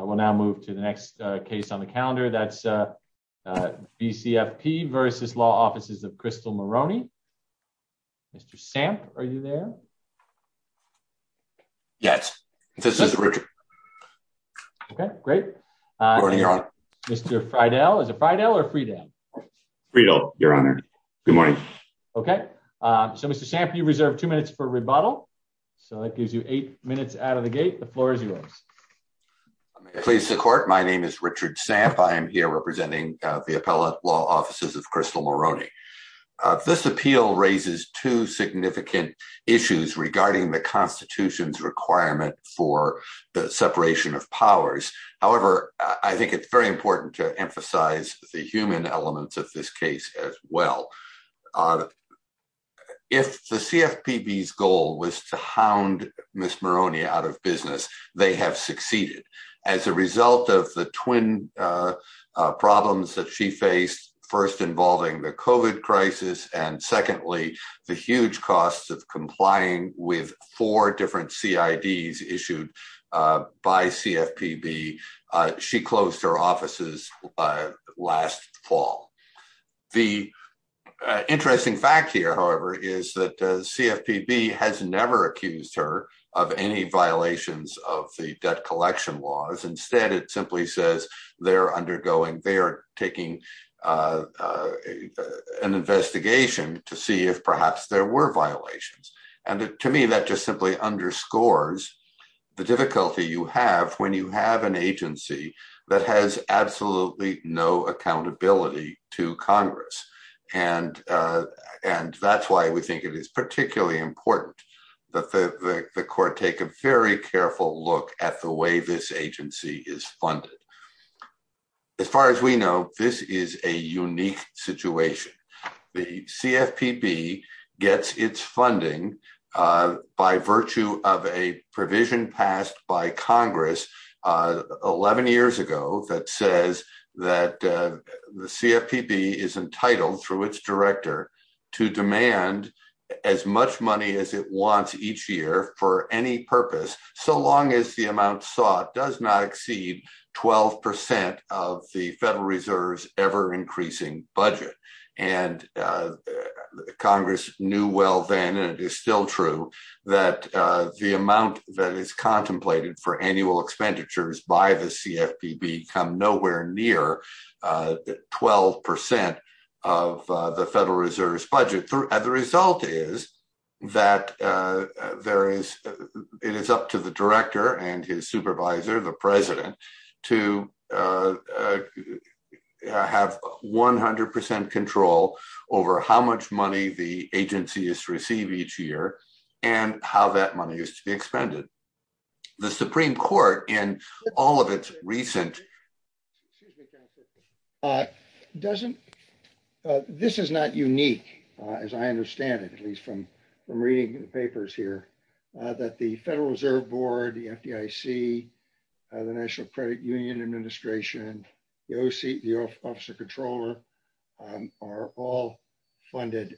We'll now move to the next case on the calendar. That's VCFP versus Law Offices of Crystal Moroney. Mr. Samp, are you there? Yes, this is Richard. Okay, great. Good morning, Your Honor. Mr. Freidel. Is it Freidel or Freedale? Freedale, Your Honor. Good morning. Okay, so Mr. Samp, you reserve two minutes for rebuttal. So that gives you eight minutes out of the gate. The pleas to court. My name is Richard Samp. I am here representing the Appellate Law Offices of Crystal Moroney. This appeal raises two significant issues regarding the Constitution's requirement for the separation of powers. However, I think it's very important to emphasize the human elements of this case as well. If the CFPB's goal was to hound Ms. Moroney out of business, they have succeeded. As a result of the twin problems that she faced, first involving the COVID crisis, and secondly, the huge costs of complying with four different CIDs issued by CFPB, she closed her offices last fall. The interesting fact here, however, is that CFPB has never accused her of any violations of the debt collection laws. Instead, it simply says they are taking an investigation to see if perhaps there were violations. To me, that just simply underscores the difficulty you have when you have an agency that has absolutely no accountability to Congress. That's why we think it is particularly important that the court take a very careful look at the way this agency is funded. As far as we know, this is a unique situation. The CFPB gets its funding by virtue of a provision passed by Congress 11 years ago that says that the CFPB is entitled, through its director, to demand as much money as it wants each year for any purpose, so long as the amount sought does not exceed 12% of the Federal Reserve's ever-increasing budget. Congress knew well then, and it is still true, that the amount that is nowhere near 12% of the Federal Reserve's budget. The result is that it is up to the director and his supervisor, the president, to have 100% control over how much money the agency is to demand. This is not unique, as I understand it, at least from reading the papers here, that the Federal Reserve Board, the FDIC, the National Credit Union Administration, the Officer Controller, are all funded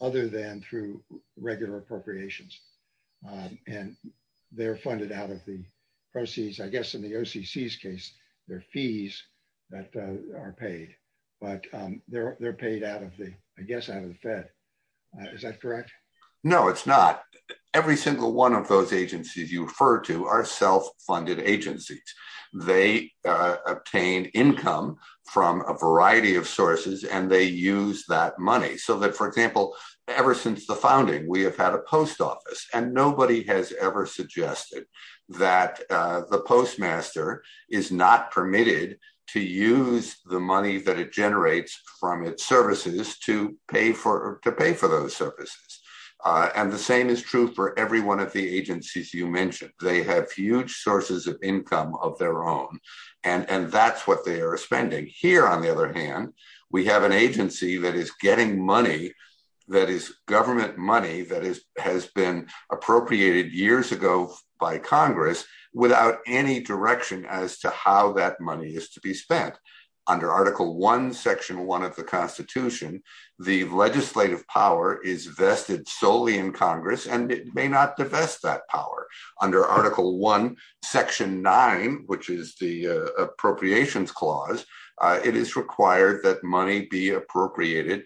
other than through regular appropriations. And they're funded out of the proceeds. I guess in the OCC's case, they're fees that are paid, but they're paid out of the Fed. Is that correct? No, it's not. Every single one of those agencies you refer to are self-funded agencies. They obtain income from a variety of sources, and they use that money. So that, for example, ever since the founding, we have had a post office, and nobody has ever suggested that the postmaster is not permitted to use the money that it generates from its services to pay for those services. And the same is true for every one of the agencies you mentioned. They have huge sources of income of their own, and that's what they are spending. Here, on the other hand, we have an agency that is getting money, that is government money that has been appropriated years ago by Congress, without any direction as to how that money is to be spent. Under Article 1, Section 1 of the Constitution, the legislative power is vested solely in Congress, and it may not divest that power. Under Article 1, Section 9, which is the Appropriations Clause, it is required that money be appropriated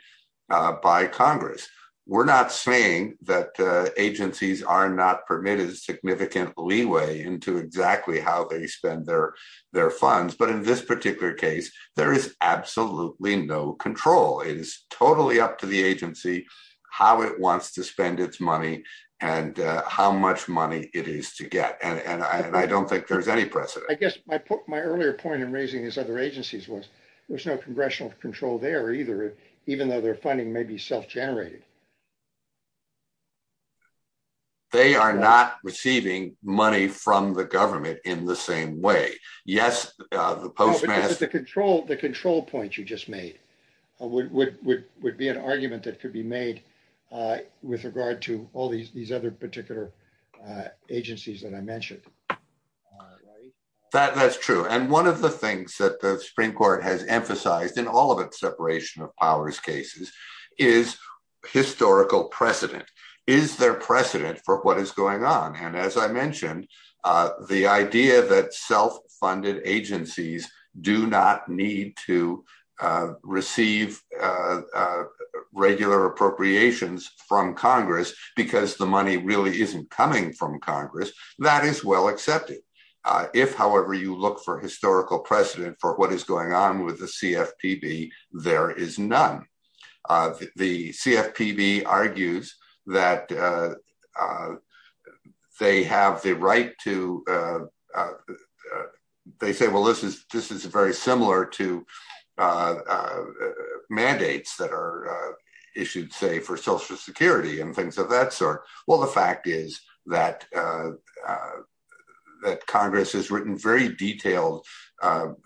by Congress. We're not saying that agencies are not permitted significant leeway into exactly how they spend their funds, but in this particular case, there is absolutely no control. It is totally up to the agency, how it wants to spend its money, and how much money it is to get. And I don't think there's any precedent. I guess my earlier point in raising these other agencies was, there's no congressional control there either, even though their funding may be self-generated. They are not receiving money from the government in the same way. Yes, the Postmaster... The control point you just made would be an argument that could be made with regard to these other particular agencies that I mentioned. That's true. And one of the things that the Supreme Court has emphasized in all of its separation of powers cases is historical precedent. Is there precedent for what is going on? And as I mentioned, the idea that self-funded agencies do not need to receive regular appropriations from Congress because the money really isn't coming from Congress, that is well accepted. If, however, you look for historical precedent for what is going on with the CFPB, there is none. The CFPB argues that they have the right to... They say, well, this is very similar to mandates that are issued, say, for Social Security and things of that sort. Well, the fact is that Congress has written very detailed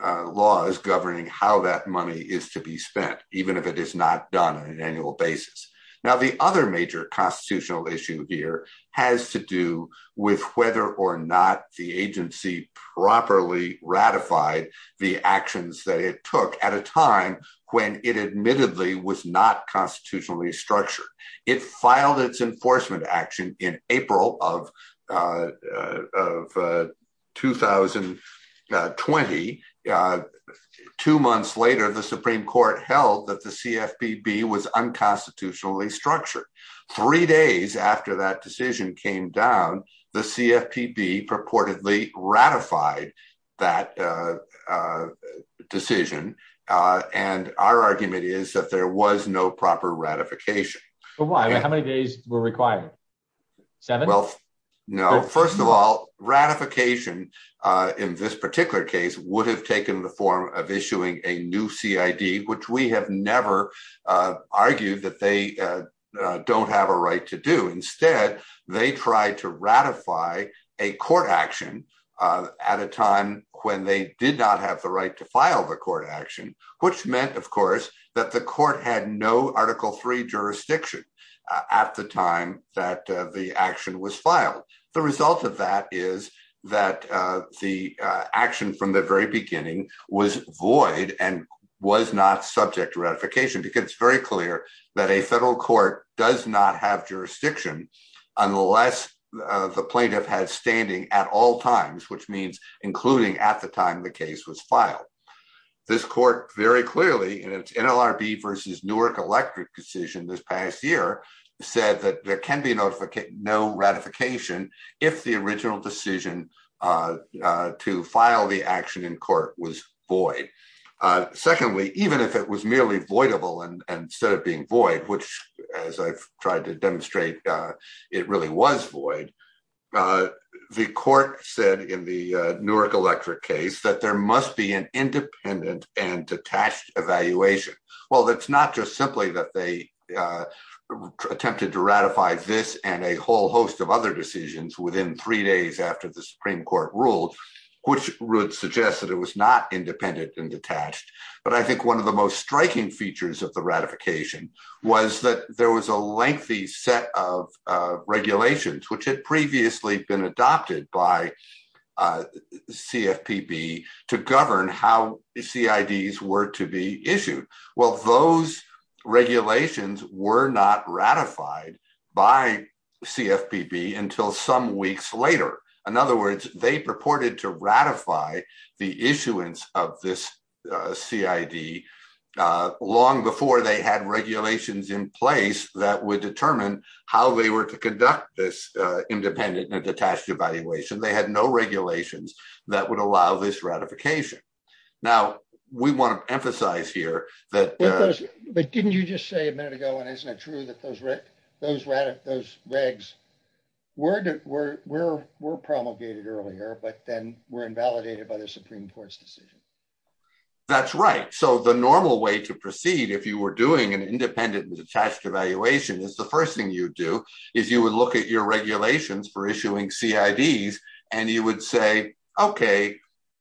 laws governing how that money is to be spent, even if it is not done on an annual basis. Now, the other major constitutional issue here has to do with whether or not the agency properly ratified the actions that it took at a time when it admittedly was not constitutionally structured. It filed its enforcement action in April of 2020. Two months later, the Supreme Court held that the CFPB was not constitutionally structured. Three days after that decision came down, the CFPB purportedly ratified that decision, and our argument is that there was no proper ratification. How many days were required? Seven? No. First of all, ratification in this particular would have taken the form of issuing a new CID, which we have never argued that they don't have a right to do. Instead, they tried to ratify a court action at a time when they did not have the right to file the court action, which meant, of course, that the court had no Article 3 jurisdiction at the time that the action was filed. The result of that is that the action from the very beginning was void and was not subject to ratification, because it's very clear that a federal court does not have jurisdiction unless the plaintiff has standing at all times, which means including at the time the case was filed. This court very clearly in its NLRB versus Nurek Electric decision this past year said that there can be no ratification if the original decision to file the action in court was void. Secondly, even if it was merely voidable and instead of being void, which as I've tried to demonstrate, it really was void, the court said in the Nurek Electric case that there must be an independent and detached evaluation. Well, it's not just simply that they attempted to ratify this and a whole host of other decisions within three days after the Supreme Court ruled, which would suggest that it was not independent and detached, but I think one of the most striking features of the ratification was that there was a lengthy set of regulations which had previously been adopted by CFPB to govern how CIDs were to be issued. Well, those regulations were not ratified by CFPB until some weeks later. In other words, they purported to ratify the issuance of this CID long before they had regulations in place that would determine how they were to conduct this independent and detached evaluation. They had no regulations that would allow this ratification. Now, we want to emphasize here that Didn't you just say a minute ago, and isn't it true, that those regs were promulgated earlier, but then were invalidated by the Supreme Court's decision? That's right. So the normal way to proceed if you were doing an independent and detached evaluation is the first thing you'd do is you would look at your regulations for issuing CIDs and you would say, okay,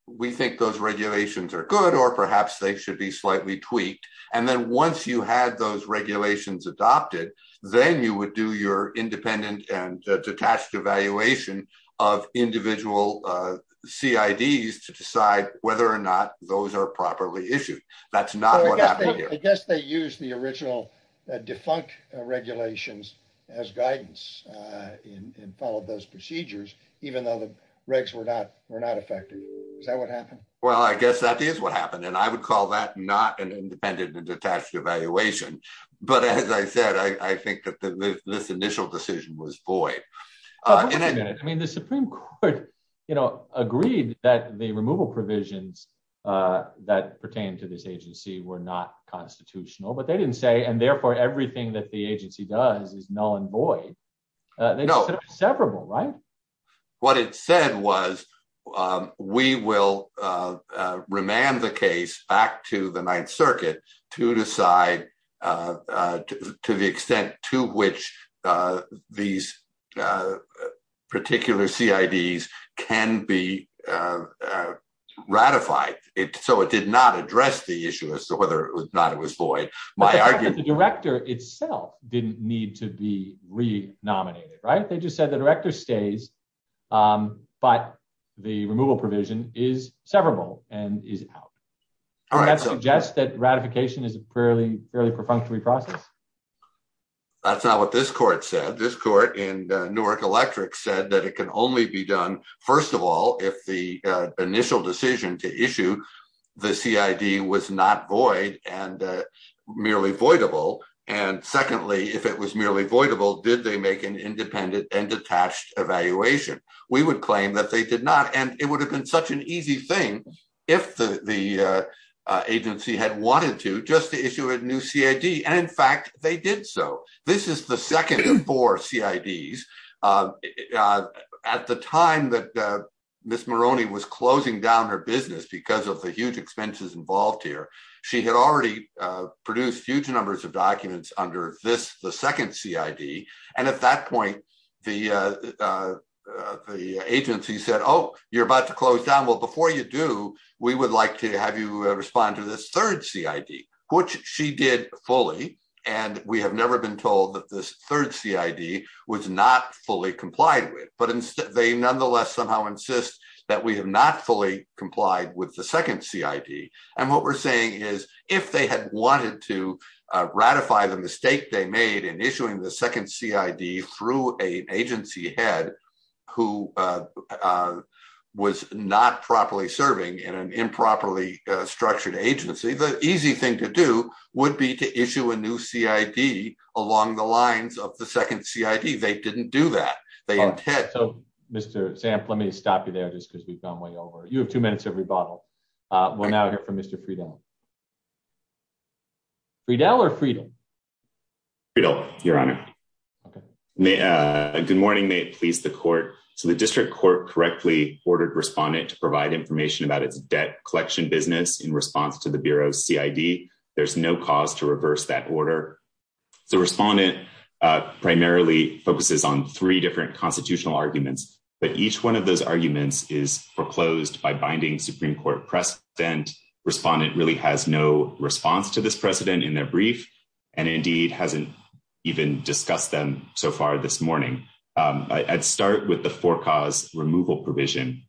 we think those regulations are good or perhaps they should be slightly tweaked. And then once you had those regulations adopted, then you would do your independent and detached evaluation of individual CIDs to decide whether or not those are properly issued. That's I guess they used the original defunct regulations as guidance and followed those procedures, even though the regs were not affected. Is that what happened? Well, I guess that is what happened. And I would call that not an independent and detached evaluation. But as I said, I think that this initial decision was void. I mean, the Supreme Court, you know, agreed that the removal provisions that pertain to this agency were not constitutional, but they didn't say, and therefore everything that the agency does is null and void. They said it's severable, right? What it said was, we will remand the case back to the Ninth Circuit to decide to the extent to which these particular CIDs can be ratified. So it did not address the issue as to whether or not it was void. But the director itself didn't need to be re-nominated, right? They just said the director stays, but the removal provision is severable and is out. Does that suggest that ratification is a fairly perfunctory process? That's not what this court said. This court in Newark Electric said that it can only be done, first of all, if the initial decision to issue the CID was not void and merely voidable. And secondly, if it was merely voidable, did they make an independent and detached evaluation? We would claim that they did and it would have been such an easy thing if the agency had wanted to just to issue a new CID. And in fact, they did so. This is the second of four CIDs. At the time that Ms. Moroney was closing down her business because of the huge expenses involved here, she had already produced huge You're about to close down. Well, before you do, we would like to have you respond to this third CID, which she did fully. And we have never been told that this third CID was not fully complied with. But they nonetheless somehow insist that we have not fully complied with the second CID. And what we're saying is, if they had wanted to ratify the mistake they made in issuing the second CID through an agency head who was not properly serving in an improperly structured agency, the easy thing to do would be to issue a new CID along the lines of the second CID. They didn't do that. So, Mr. Zamp, let me stop you there just because we've gone way over. You have two minutes of rebuttal. We'll now hear from Mr. Friedel. Friedel or Friedel? Friedel, Your Honor. Okay. Good morning. May it please the court. So the district court correctly ordered respondent to provide information about its debt collection business in response to the Bureau's CID. There's no cause to reverse that order. The respondent primarily focuses on three different constitutional arguments. But each one of those arguments is foreclosed by binding Supreme Court precedent. Respondent really has no response to this precedent in their brief, and indeed, hasn't even discussed them so far this morning. I'd start with the for-cause removal provision,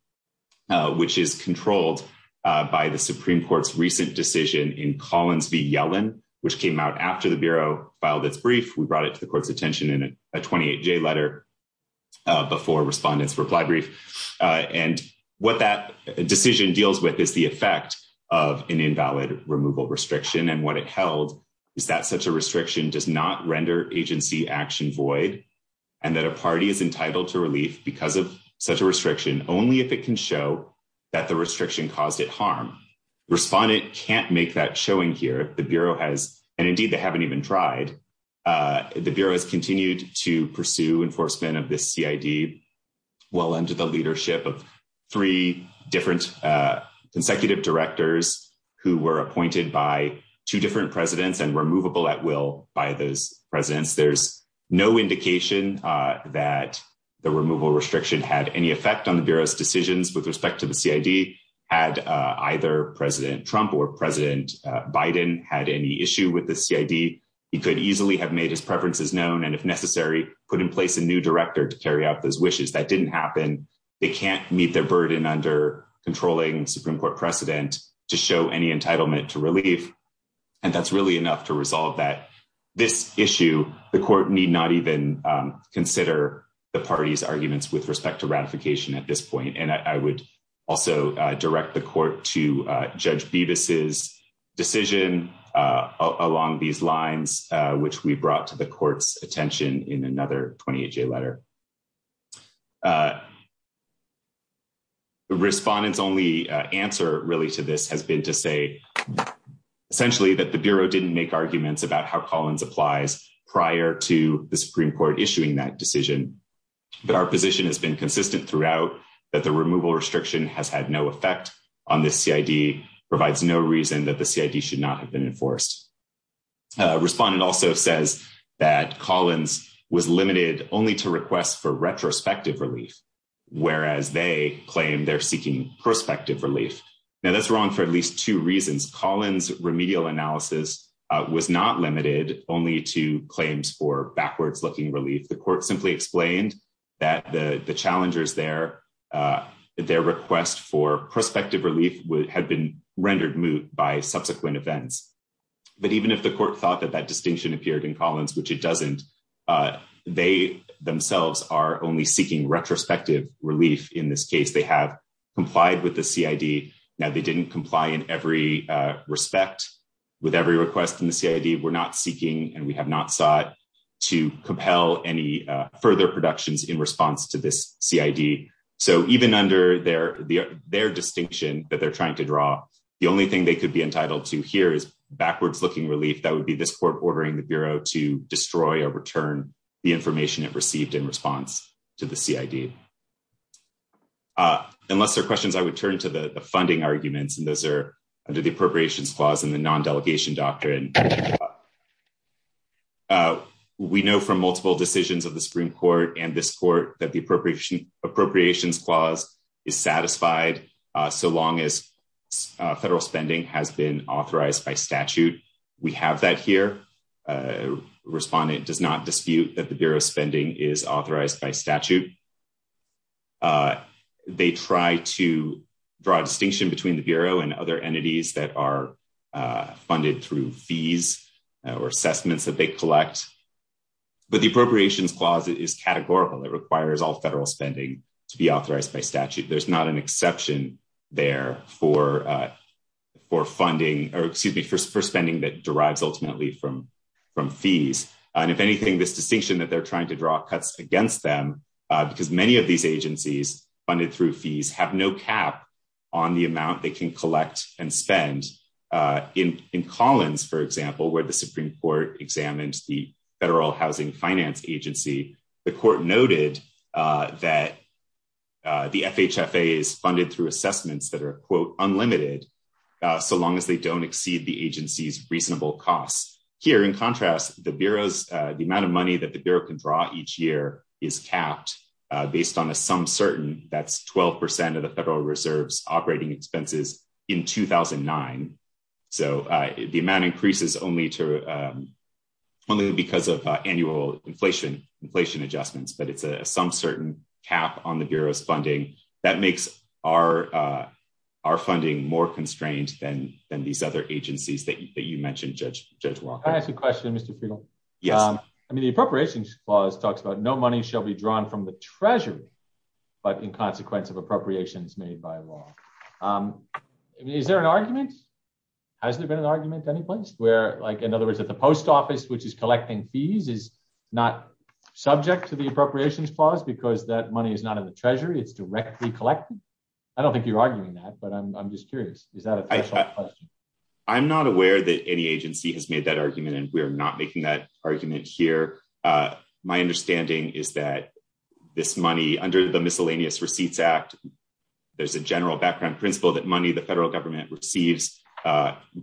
which is controlled by the Supreme Court's recent decision in Collins v. Yellen, which came out after the Bureau filed its brief. We brought it to the court's attention in a 28-J letter before respondent's reply brief. And what that decision deals with is the effect of an invalid removal restriction. And what it held is that such a restriction does not render agency action void, and that a party is entitled to relief because of such a restriction only if it can show that the restriction caused it harm. Respondent can't make that showing here. The Bureau has—and indeed, they haven't even tried—the Bureau has continued to pursue enforcement of this CID well under the leadership of three different consecutive directors who were appointed by two different presidents and were movable at will by those presidents. There's no indication that the removal restriction had any effect on the Bureau's decisions with respect to the CID had either President Trump or President Biden had any issue with the CID. He could easily have made his preferences known and, if necessary, put in place a new director to carry out those wishes. That didn't happen. They can't meet their burden under controlling Supreme Court precedent to show any entitlement to relief. And that's really enough to resolve that. This issue, the court need not even consider the party's arguments with respect to ratification at this point. And I would also direct the court to Judge Bevis's decision along these lines, which we brought to the court's attention in another 28-J letter. Respondent's only answer, really, to this has been to say essentially that the Bureau didn't make arguments about how Collins applies prior to the Supreme Court issuing that decision. But our position has been consistent throughout that the removal restriction has had no effect on this CID, provides no reason that the CID should not have been enforced. Respondent also says that Collins was limited only to requests for retrospective relief, whereas they claim they're seeking prospective relief. Now, that's wrong for at least two reasons. Collins' remedial analysis was not limited only to claims for backwards-looking relief. The court simply explained that the challengers there, that their request for prospective relief had been rendered moot by subsequent events. But even if the court thought that that distinction appeared in Collins, which it doesn't, they themselves are only seeking retrospective relief in this case. They have complied with the CID. Now, they didn't comply in respect with every request in the CID. We're not seeking and we have not sought to compel any further productions in response to this CID. So even under their distinction that they're trying to draw, the only thing they could be entitled to here is backwards-looking relief. That would be this court ordering the Bureau to destroy or return the information it received in response to the CID. Unless there are questions, I would turn to the funding arguments, and those under the Appropriations Clause and the Non-Delegation Doctrine. We know from multiple decisions of the Supreme Court and this court that the Appropriations Clause is satisfied so long as federal spending has been authorized by statute. We have that here. Respondent does not dispute that the Bureau spending is authorized by statute. They try to draw a distinction between the Bureau and other entities that are funded through fees or assessments that they collect. But the Appropriations Clause is categorical. It requires all federal spending to be authorized by statute. There's not an exception there for spending that derives ultimately from fees. And if anything, this distinction that they're trying to draw cuts against them because many of these agencies funded through fees have no cap on the amount they can collect and spend. In Collins, for example, where the Supreme Court examined the Federal Housing Finance Agency, the court noted that the FHFA is funded through assessments that are, quote, unlimited so long as they don't exceed the agency's reasonable costs. Here, in contrast, the Bureau's, the amount of money that the Bureau can draw each year is capped based on a some certain, that's 12 percent of the Federal Reserve's operating expenses in 2009. So the amount increases only to, only because of annual inflation adjustments, but it's a some certain cap on the Bureau's funding that makes our funding more constrained than these other agencies that you mentioned, Judge Walker. Can I ask a question, Mr. Friedel? Yes. I mean, the Appropriations Clause talks about no money shall be drawn from the Treasury, but in consequence of appropriations made by law. Is there an argument? Has there been an argument any place where, like, in other words, that the Post Office, which is collecting fees, is not subject to the Appropriations Clause because that money is not in the Treasury, it's directly collected? I don't think you're arguing that, but I'm just curious. Is that a question? I'm not aware that any agency has made that argument, and we're not making that argument here. My understanding is that this money, under the Miscellaneous Receipts Act, there's a general background principle that money the Federal Government receives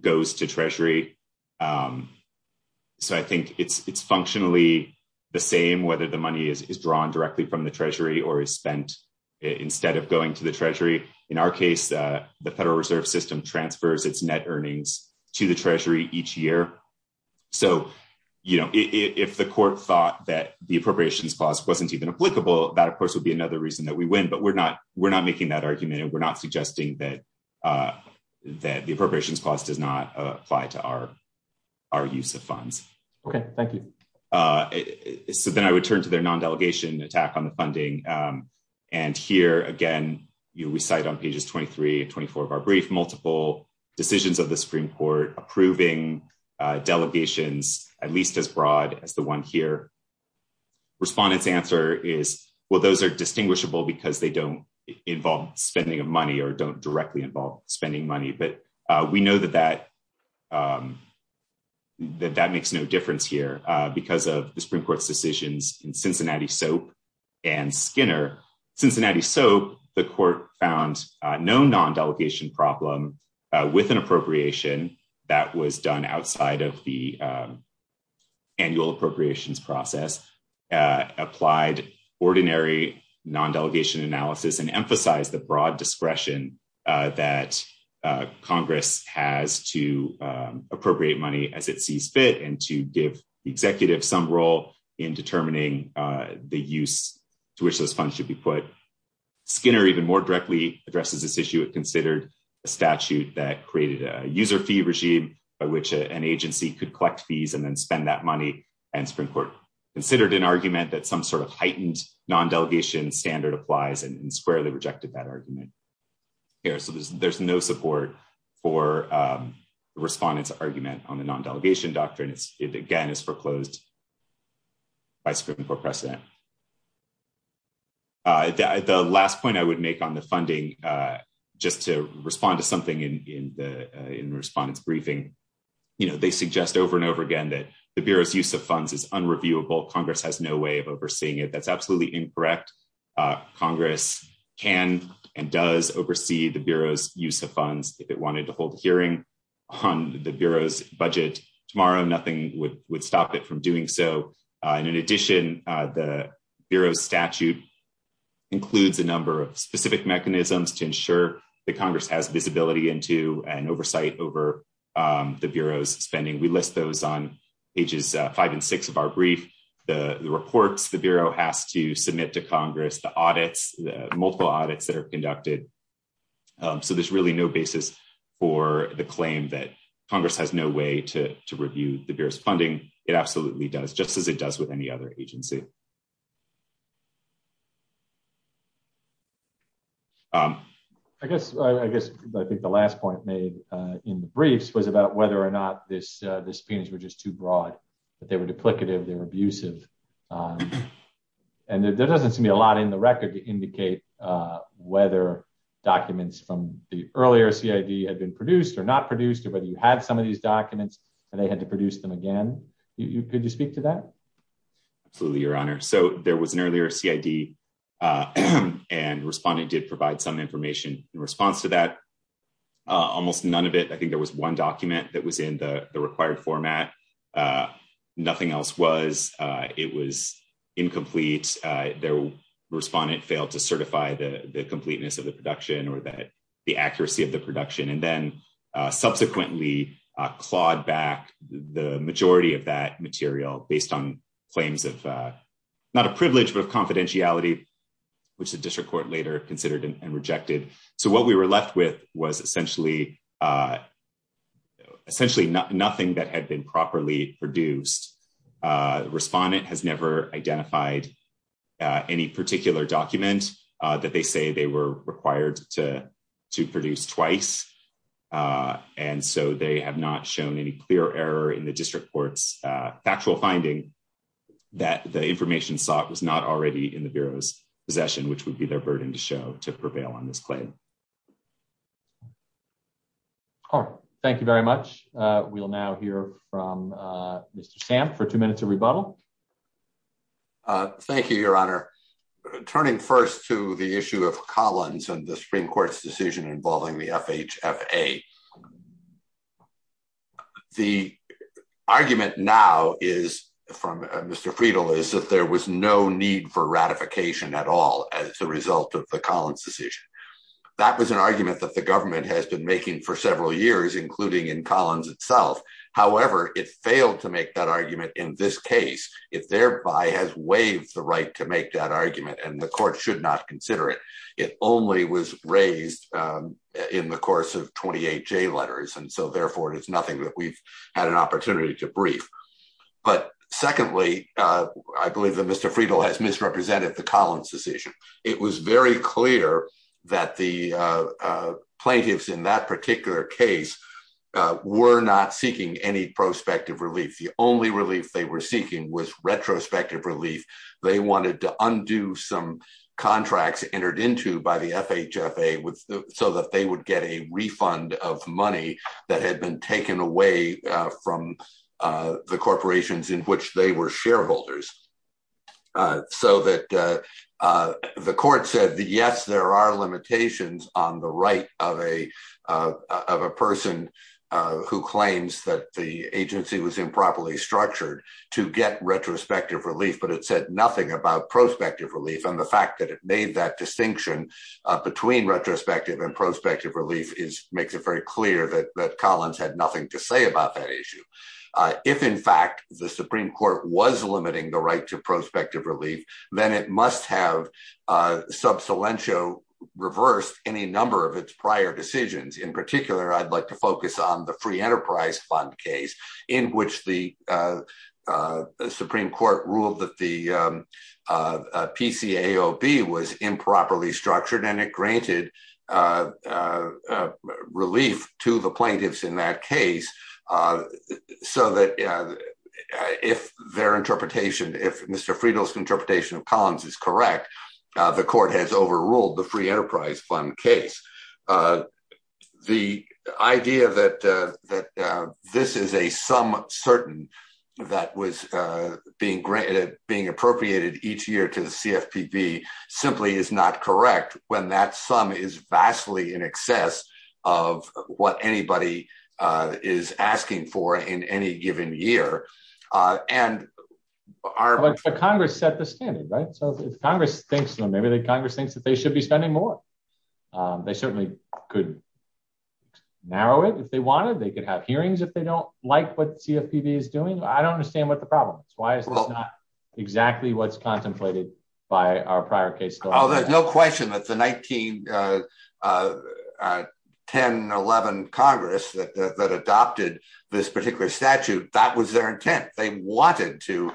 goes to Treasury. So I think it's functionally the same whether the money is drawn directly from the Treasury or is spent instead of going to the Treasury. In our case, the Federal Reserve transfers its net earnings to the Treasury each year. So, you know, if the Court thought that the Appropriations Clause wasn't even applicable, that, of course, would be another reason that we win. But we're not making that argument, and we're not suggesting that the Appropriations Clause does not apply to our use of funds. Okay. Thank you. So then I would turn to their non-delegation attack on the funding. And here, again, we cite on pages 23 and 24 of our brief multiple decisions of the Supreme Court approving delegations at least as broad as the one here. Respondents' answer is, well, those are distinguishable because they don't involve spending of money or don't directly involve spending money. But we know that that makes no difference here because of the Supreme Court's decision. So the Court found no non-delegation problem with an appropriation that was done outside of the annual appropriations process, applied ordinary non-delegation analysis, and emphasized the broad discretion that Congress has to appropriate money as it sees fit and to give the executive some role in determining the use to which those funds should be put. Skinner even more directly addresses this issue. It considered a statute that created a user fee regime by which an agency could collect fees and then spend that money. And the Supreme Court considered an argument that some sort of heightened non-delegation standard applies and squarely rejected that argument. So there's no support for the Respondent's argument on the non-delegation doctrine. It, again, is foreclosed by Supreme Court precedent. The last point I would make on the funding, just to respond to something in the Respondent's briefing, you know, they suggest over and over again that the Bureau's use of funds is unreviewable. Congress has no way of overseeing it. That's absolutely incorrect. Congress can and does oversee the Bureau's use of funds. If it wanted to hold a hearing on the Bureau's budget tomorrow, nothing would stop it from doing so. In addition, the Bureau's statute includes a number of specific mechanisms to ensure that Congress has visibility into and oversight over the Bureau's spending. We list those on pages five and six of our brief. The reports the Bureau has to submit to Congress, the audits, the multiple audits that are conducted. So there's really no basis for the claim that Congress has no way to review the Bureau's funding. It absolutely does, just as it does with any other agency. I guess I think the last point made in the briefs was about whether or not these opinions were just too broad, that they were duplicative, they were abusive. And there doesn't seem to be a lot in the record to indicate whether documents from the earlier CID had been produced or not produced, or whether you had some of these documents and they had to produce them again. Could you speak to that? Absolutely, Your Honor. So there was an earlier CID and Respondent did provide some information in response to that. Almost none of it. I think there was one document that was in the required format. Nothing else was. It was incomplete. The Respondent failed to certify the completeness of the production or that the accuracy of the production, and then subsequently clawed back the majority of that material based on claims of, not a privilege, but of confidentiality, which the District Court later considered and rejected. So what we were left with was essentially nothing that had been properly produced. Respondent has never identified any particular document that they say they were twice. And so they have not shown any clear error in the District Court's actual finding that the information sought was not already in the Bureau's possession, which would be their burden to show to prevail on this claim. Thank you very much. We'll now hear from Mr. Stamp for two minutes of rebuttal. Thank you, Your Honor. Turning first to the issue of Collins and the Supreme Court's decision involving the FHFA. The argument now is from Mr. Friedel is that there was no need for ratification at all as a result of the Collins decision. That was an argument that the government has been making for several years, including in Collins itself. However, it failed to make that argument in this case. It thereby has waived the right to make that argument and the court should not consider it. It only was raised in the course of 28 letters. And so, therefore, it is nothing that we've had an opportunity to brief. But secondly, I believe that Mr. Friedel has misrepresented the Collins decision. It was very clear that the plaintiffs in that particular case were not seeking any prospective relief. The only relief they were contracts entered into by the FHFA was so that they would get a refund of money that had been taken away from the corporations in which they were shareholders. So that the court said, yes, there are limitations on the right of a person who claims that the agency was improperly structured to get retrospective relief, but it said nothing about prospective relief. And the fact that it made that distinction between retrospective and prospective relief makes it very clear that Collins had nothing to say about that issue. If in fact, the Supreme Court was limiting the right to prospective relief, then it must have sub salientio reversed any number of its prior decisions. In particular, I'd like to focus on the free enterprise fund case in which the Supreme Court ruled that the PCAOB was improperly structured and it granted relief to the plaintiffs in that case. So that if their interpretation, if Mr. Friedel's interpretation of Collins is correct, the court has overruled the free enterprise fund case. The idea that this is a sum certain that was being appropriated each year to the CFPB simply is not correct when that sum is vastly in excess of what anybody is asking for in any given year. But Congress set the standard, right? So if Congress thinks that they should be spending more, they certainly could narrow it if they wanted. They could have hearings if they don't like what CFPB is doing. I don't understand what the problem is. Why is this not exactly what's contemplated by our prior case? Oh, there's no question that the 1910-11 Congress that adopted this particular statute, that was their intent. They wanted to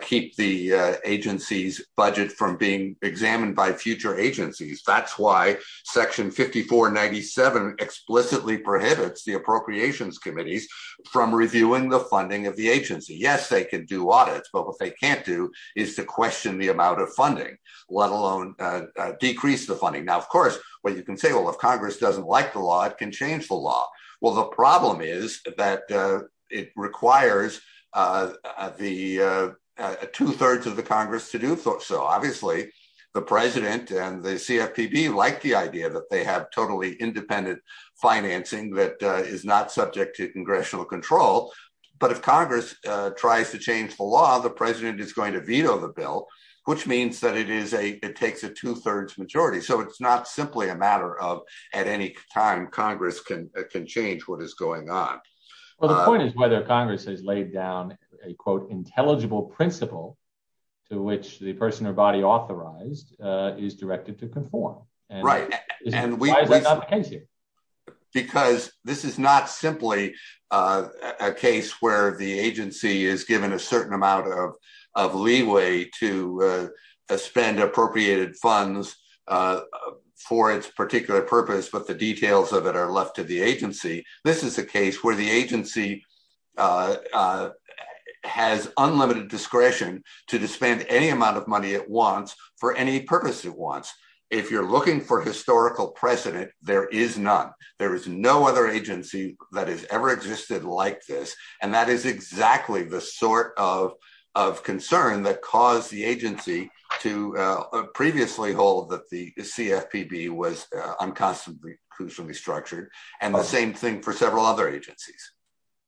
keep the agency's budget from examined by future agencies. That's why section 5497 explicitly prohibits the appropriations committees from reviewing the funding of the agency. Yes, they can do audits, but what they can't do is to question the amount of funding, let alone decrease the funding. Now, of course, what you can say, well, if Congress doesn't like the law, it can change the law. Well, the problem is that it requires two-thirds of the Congress to do so. Obviously, the president and the CFPB like the idea that they have totally independent financing that is not subject to congressional control. But if Congress tries to change the law, the president is going to veto the bill, which means that it takes a two-thirds majority. So it's not simply a matter of at any time Congress can change what is going on. Well, the point is whether Congress has laid down a, quote, intelligible principle to which the person or body authorized is directed to conform. Because this is not simply a case where the agency is given a certain amount of leeway to spend appropriated funds for its particular purpose, but the details of it are left to the agency. This is a case where the agency has unlimited discretion to spend any amount of money it wants for any purpose it wants. If you're looking for historical precedent, there is none. There is no other agency that has ever existed like this. And that is exactly the sort of concern that caused the agency to previously hold that the CFPB was unconstitutionally structured, and the same thing for several other agencies.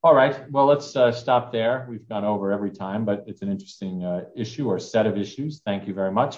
All right. Well, let's stop there. We've gone over every time, but it's an interesting issue or set of issues. Thank you very much.